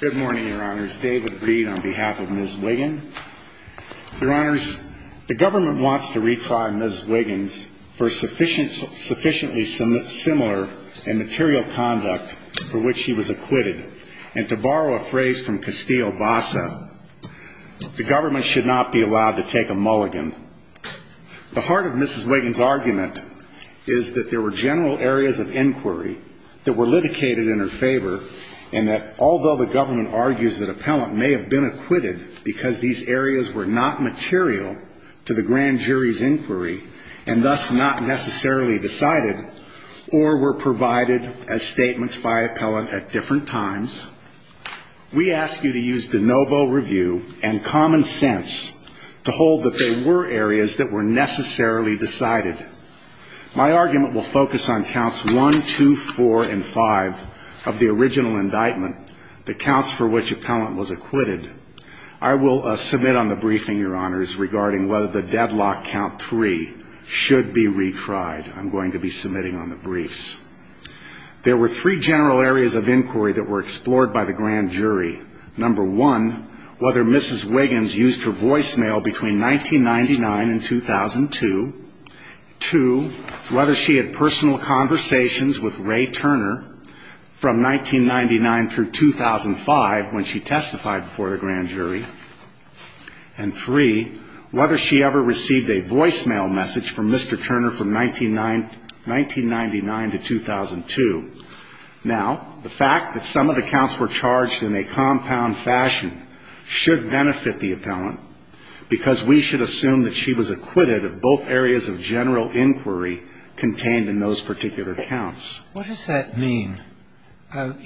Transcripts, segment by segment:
Good morning, your honors. David Reed on behalf of Ms. Wiggan. Your honors, the government wants to retry Ms. Wiggan for sufficiently similar in material conduct for which she was acquitted. And to borrow a phrase from Castillo-Bassa, the government should not be allowed to take a mulligan. The heart of Ms. Wiggan's argument is that there were general areas of inquiry that were litigated in her favor, and that although the government argues that appellant may have been acquitted because these areas were not material to the grand jury's inquiry and thus not necessarily decided or were provided as statements by appellant at different times, we ask you to use de novo review and common sense to hold that there were areas that were necessarily decided. My argument will focus on counts one, two, four, and five of the original indictment, the counts for which appellant was acquitted. I will submit on the briefing, your honors, regarding whether the deadlock count three should be retried. I'm going to be submitting on the briefs. There were three general areas of inquiry that were explored by the grand jury. Number one, whether Mrs. Wiggan's used her voicemail between 1999 and 2002. Two, whether she had personal conversations with Ray Turner from 1999 through 2005 when she testified before the grand jury. And three, whether she ever received a voicemail message from Mr. Turner from 1999 to 2002. Now, the fact that some of the counts were charged in a compound fashion should benefit the appellant, because we should assume that she was acquitted of both areas of general inquiry contained in those particular counts. What does that mean, that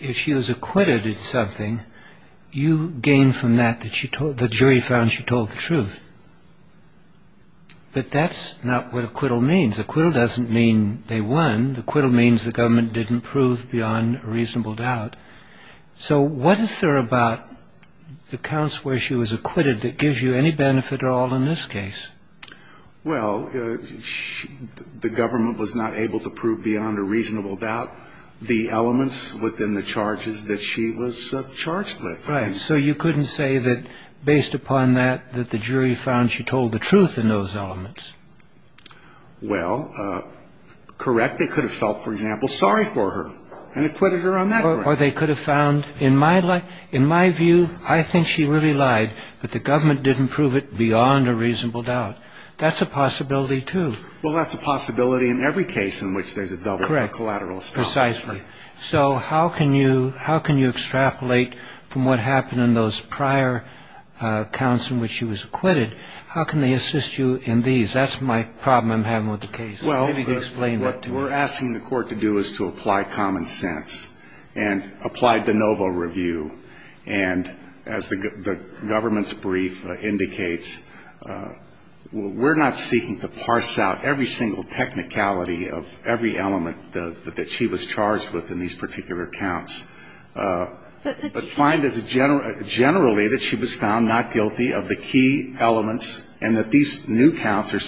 if she was acquitted of something, you gain from that that the jury found she told the truth? But that's not what acquittal means. Acquittal doesn't mean they won. Acquittal means the government didn't prove beyond a reasonable doubt. So what is there about the counts where she was acquitted that gives you any benefit at all in this case? Well, the government was not able to prove beyond a reasonable doubt the elements within the charges that she was charged with. Right. So you couldn't say that based upon that, that the jury found she told the truth in those elements? Well, correct. They could have felt, for example, sorry for her and acquitted her on that ground. Or they could have found, in my view, I think she really lied, but the government didn't prove it beyond a reasonable doubt. That's a possibility, too. Well, that's a possibility in every case in which there's a double or collateral establishment. Correct. Precisely. So how can you extrapolate from what happened in those prior counts in which she was acquitted? How can they assist you in these? That's my problem I'm having with the case. Maybe you could explain that to me. What we're asking the Court to do is to apply common sense and apply de novo review. And as the government's brief indicates, we're not seeking to parse out every single technicality of every element that she was charged with in these particular counts, but find generally that she was found not guilty of the key elements and that these new counts are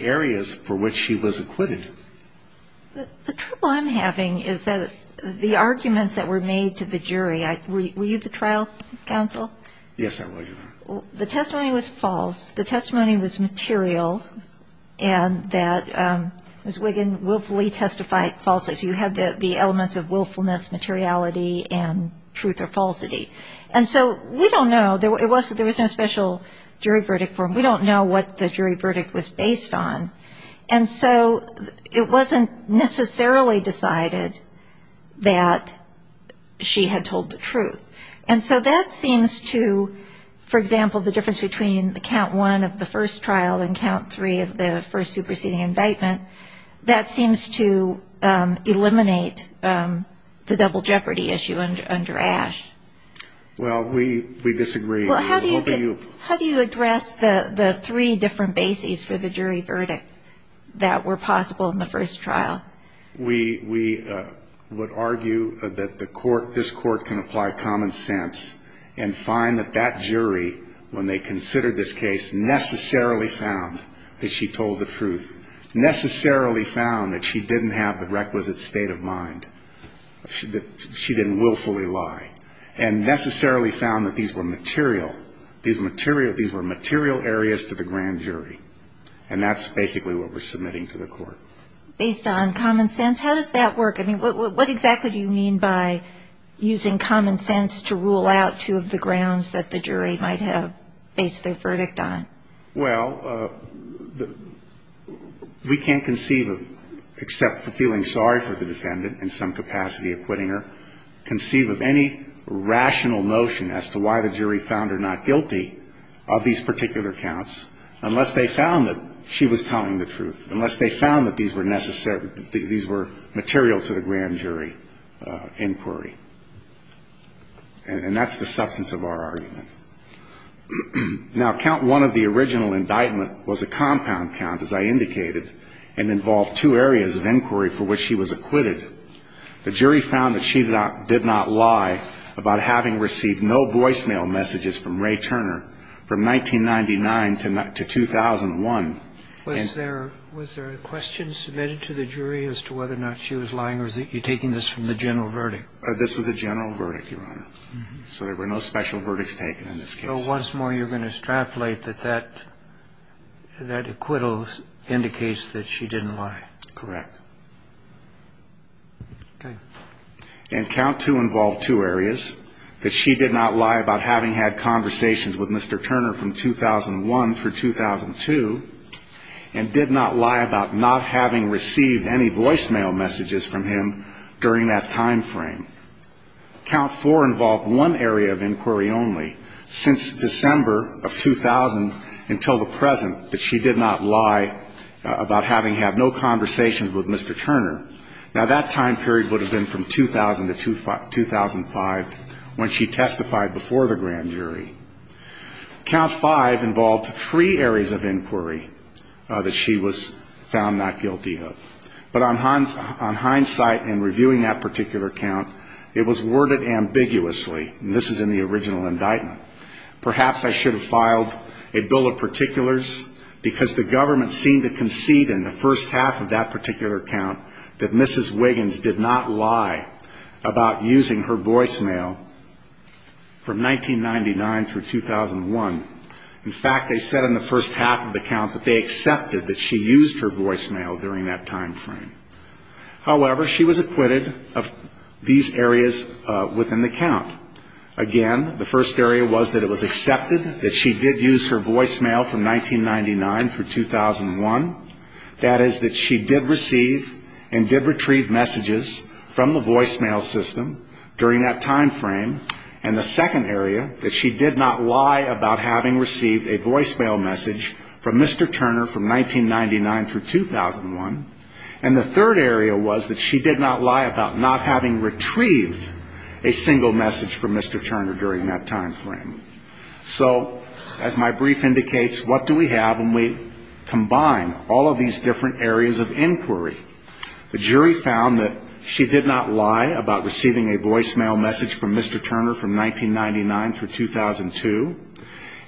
areas for which she was acquitted. The trouble I'm having is that the arguments that were made to the jury, were you the trial counsel? Yes, I was. The testimony was false. The testimony was material and that Ms. Wiggin willfully testified falsely. So you had the elements of willfulness, materiality, and truth or falsity. And so we don't know. There was no special jury verdict for them. We don't know what the jury verdict was based on. And so it wasn't necessarily decided that she had told the truth. And so that seems to, for example, the difference between the count one of the first trial and count three of the first superseding indictment, that seems to eliminate the double jeopardy issue under Ash. Well, we disagree. How do you address the three different bases for the jury verdict that were possible in the first trial? We would argue that this court can apply common sense and find that that jury, when they considered this case, necessarily found that she told the truth, necessarily found that she didn't have the requisite state of mind, that she didn't willfully lie, and necessarily found that these were material, these were material areas to the grand jury. And that's basically what we're submitting to the court. Based on common sense? How does that work? I mean, what exactly do you mean by using common sense to rule out two of the grounds that the jury might have based their verdict on? Well, we can't conceive of, except for feeling sorry for the defendant in some capacity of quitting her, conceive of any rational notion as to why the jury found her not guilty of these particular counts unless they found that she was telling the truth, unless they found that these were necessary, these were material to the grand jury inquiry. And that's the substance of our argument. Now, count one of the original indictment was a compound count, as I indicated, and involved two areas of inquiry for which she was acquitted. The jury found that she did not lie about having received no voicemail messages from Ray Turner from 1999 to 2001. Was there a question submitted to the jury as to whether or not she was lying, or are you taking this from the general verdict? This was a general verdict, Your Honor. So there were no special verdicts taken in this case. So once more you're going to extrapolate that that acquittal indicates that she didn't lie. Correct. Okay. And count two involved two areas, that she did not lie about having had conversations with Mr. Turner from 2001 through 2002 and did not lie about not having received any voicemail messages from him during that time frame. Count four involved one area of inquiry only, since December of 2000 until the present, that she did not lie about having had no conversations with Mr. Turner. Now, that time period would have been from 2000 to 2005 when she testified before the grand jury. Count five involved three areas of inquiry that she was found not guilty of. But on hindsight in reviewing that particular count, it was worded ambiguously, and this is in the original indictment, perhaps I should have filed a bill of particulars because the government seemed to concede in the first half of that particular count that Mrs. Wiggins did not lie about using her voicemail from 1999 through 2001. In fact, they said in the first half of the count that they accepted that she used her voicemail during that time frame. However, she was acquitted of these areas within the count. Again, the first area was that it was accepted that she did use her voicemail from 1999 through 2001. That is, that she did receive and did retrieve messages from the voicemail system during that time frame. And the second area, that she did not lie about having received a voicemail message from Mr. Turner from 1999 through 2001. And the third area was that she did not lie about not having retrieved a single message from Mr. Turner during that time frame. So as my brief indicates, what do we have when we combine all of these different areas of inquiry? The jury found that she did not lie about receiving a voicemail message from Mr. Turner from 1999 through 2002.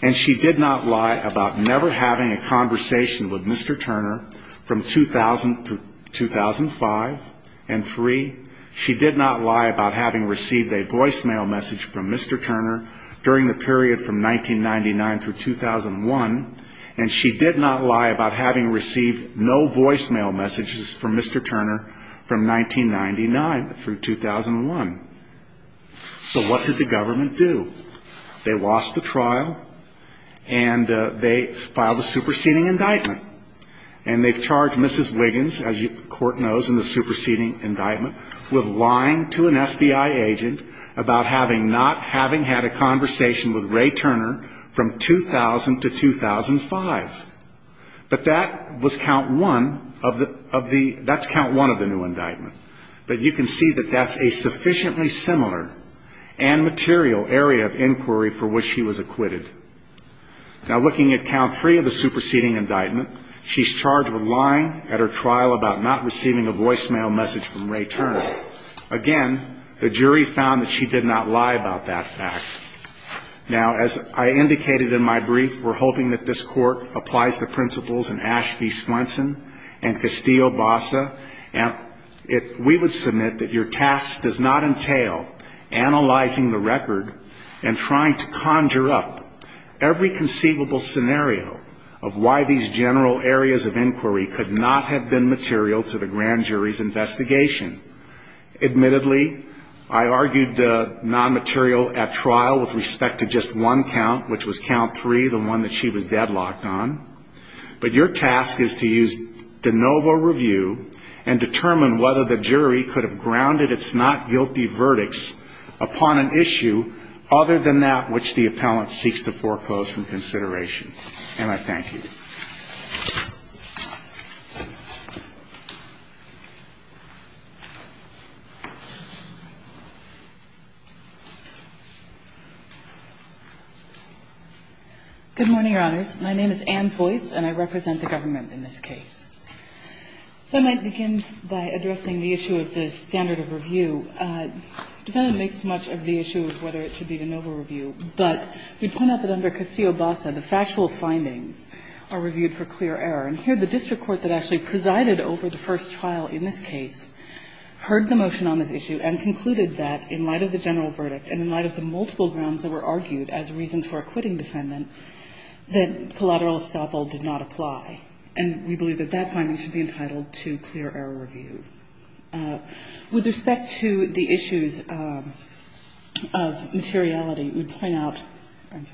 And she did not lie about never having a conversation with Mr. Turner from 2000 to 2005. And three, she did not lie about having received a voicemail message from Mr. Turner during the period from 1999 through 2001. And she did not lie about having received no voicemail messages from Mr. Turner from 1999 through 2001. So what did the government do? They lost the trial, and they filed a superseding indictment. And they've charged Mrs. Wiggins, as the court knows in the superseding indictment, with lying to an FBI agent about having not having had a conversation with Ray Turner from 2000 to 2005. But that was count one of the new indictment. But you can see that that's a sufficiently similar and material area of inquiry for which she was acquitted. Now, looking at count three of the superseding indictment, she's charged with lying at her trial about not receiving a voicemail message from Ray Turner. Again, the jury found that she did not lie about that fact. Now, as I indicated in my brief, we're hoping that this court applies the principles in Ash v. Swenson and Castillo-Bassa. And we would submit that your task does not entail analyzing the record and trying to conjure up every conceivable scenario of why these general areas of inquiry could not have been material to the grand jury's investigation. Admittedly, I argued nonmaterial at trial with respect to just one count, which was count three, the one that she was deadlocked on. But your task is to use de novo review and determine whether the jury could have grounded its not guilty verdicts upon an issue other than that which the appellant seeks to foreclose from consideration. And I thank you. Good morning, Your Honors. My name is Ann Voights, and I represent the government in this case. If I might begin by addressing the issue of the standard of review. Defendant makes much of the issue of whether it should be de novo review, but we point out that under Castillo-Bassa, the factual findings are reviewed for clear error. And here the district court that actually presided over the first trial in this case heard the motion on this issue and concluded that in light of the general verdict and in light of the multiple grounds that were argued as reasons for acquitting defendant, that collateral estoppel did not apply. And we believe that that finding should be entitled to clear error review. With respect to the issues of materiality, we point out, with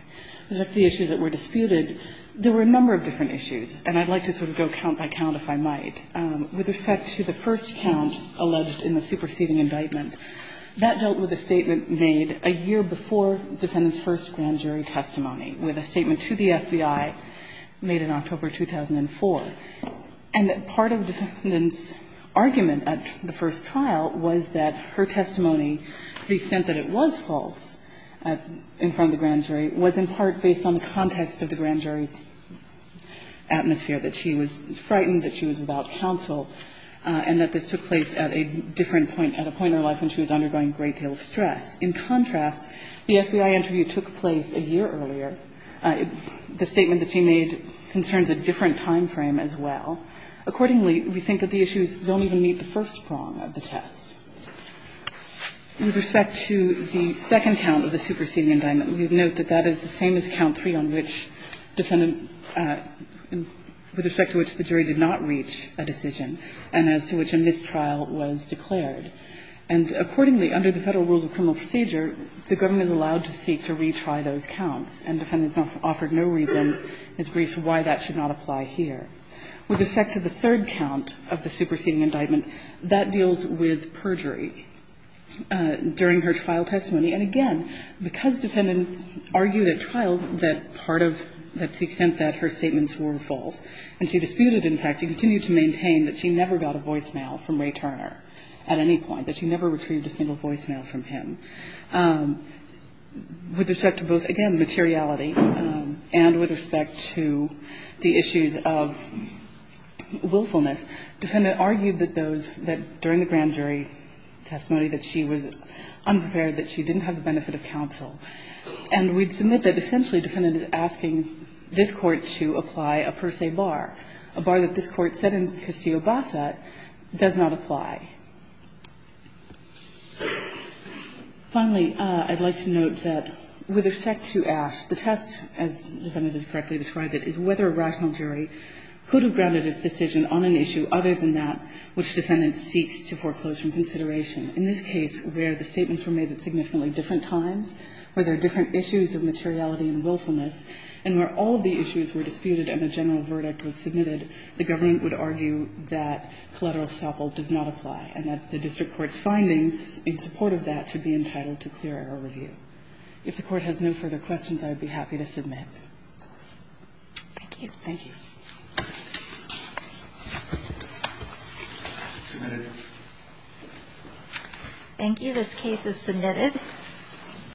respect to the issues that were disputed, there were a number of different issues. And I'd like to sort of go count by count, if I might. With respect to the first count alleged in the superseding indictment, that dealt with a statement made a year before defendant's first grand jury testimony, with a statement to the FBI made in October 2004. And part of defendant's argument at the first trial was that her testimony, to the extent that it was false in front of the grand jury, was in part based on the context of the grand jury atmosphere, that she was frightened, that she was without counsel, and that this took place at a different point, at a point in her life when she was undergoing a great deal of stress. In contrast, the FBI interview took place a year earlier. The statement that she made concerns a different time frame as well. Accordingly, we think that the issues don't even meet the first prong of the test. With respect to the second count of the superseding indictment, we would note that that is the same as count three on which defendant, with respect to which the jury did not reach a decision, and as to which a mistrial was declared. And accordingly, under the Federal Rules of Criminal Procedure, the government is allowed to seek to retry those counts. And defendant's offered no reason as to why that should not apply here. With respect to the third count of the superseding indictment, that deals with perjury during her trial testimony. And again, because defendant argued at trial that part of, that the extent that her statements were false, and she disputed, in fact, she continued to maintain that she never got a voicemail from Ray Turner at any point, that she never retrieved a single voicemail from him. With respect to both, again, materiality and with respect to the issues of willfulness, defendant argued that those, that during the grand jury testimony that she was unprepared, that she didn't have the benefit of counsel. And we'd submit that essentially defendant is asking this Court to apply a per se bar, a bar that this Court said in Castillo-Bassa does not apply. Finally, I'd like to note that with respect to Ash, the test, as defendant has correctly described it, is whether a rational jury could have grounded its decision on an issue other than that which defendant seeks to foreclose from consideration. In this case, where the statements were made at significantly different times, where there are different issues of materiality and willfulness, and where all of the issues were disputed and a general verdict was submitted, the government would argue that collateral estoppel does not apply, and that the district court's findings in support of that should be entitled to clear error review. If the Court has no further questions, I would be happy to submit. Thank you. Thank you. Thank you. This case is submitted.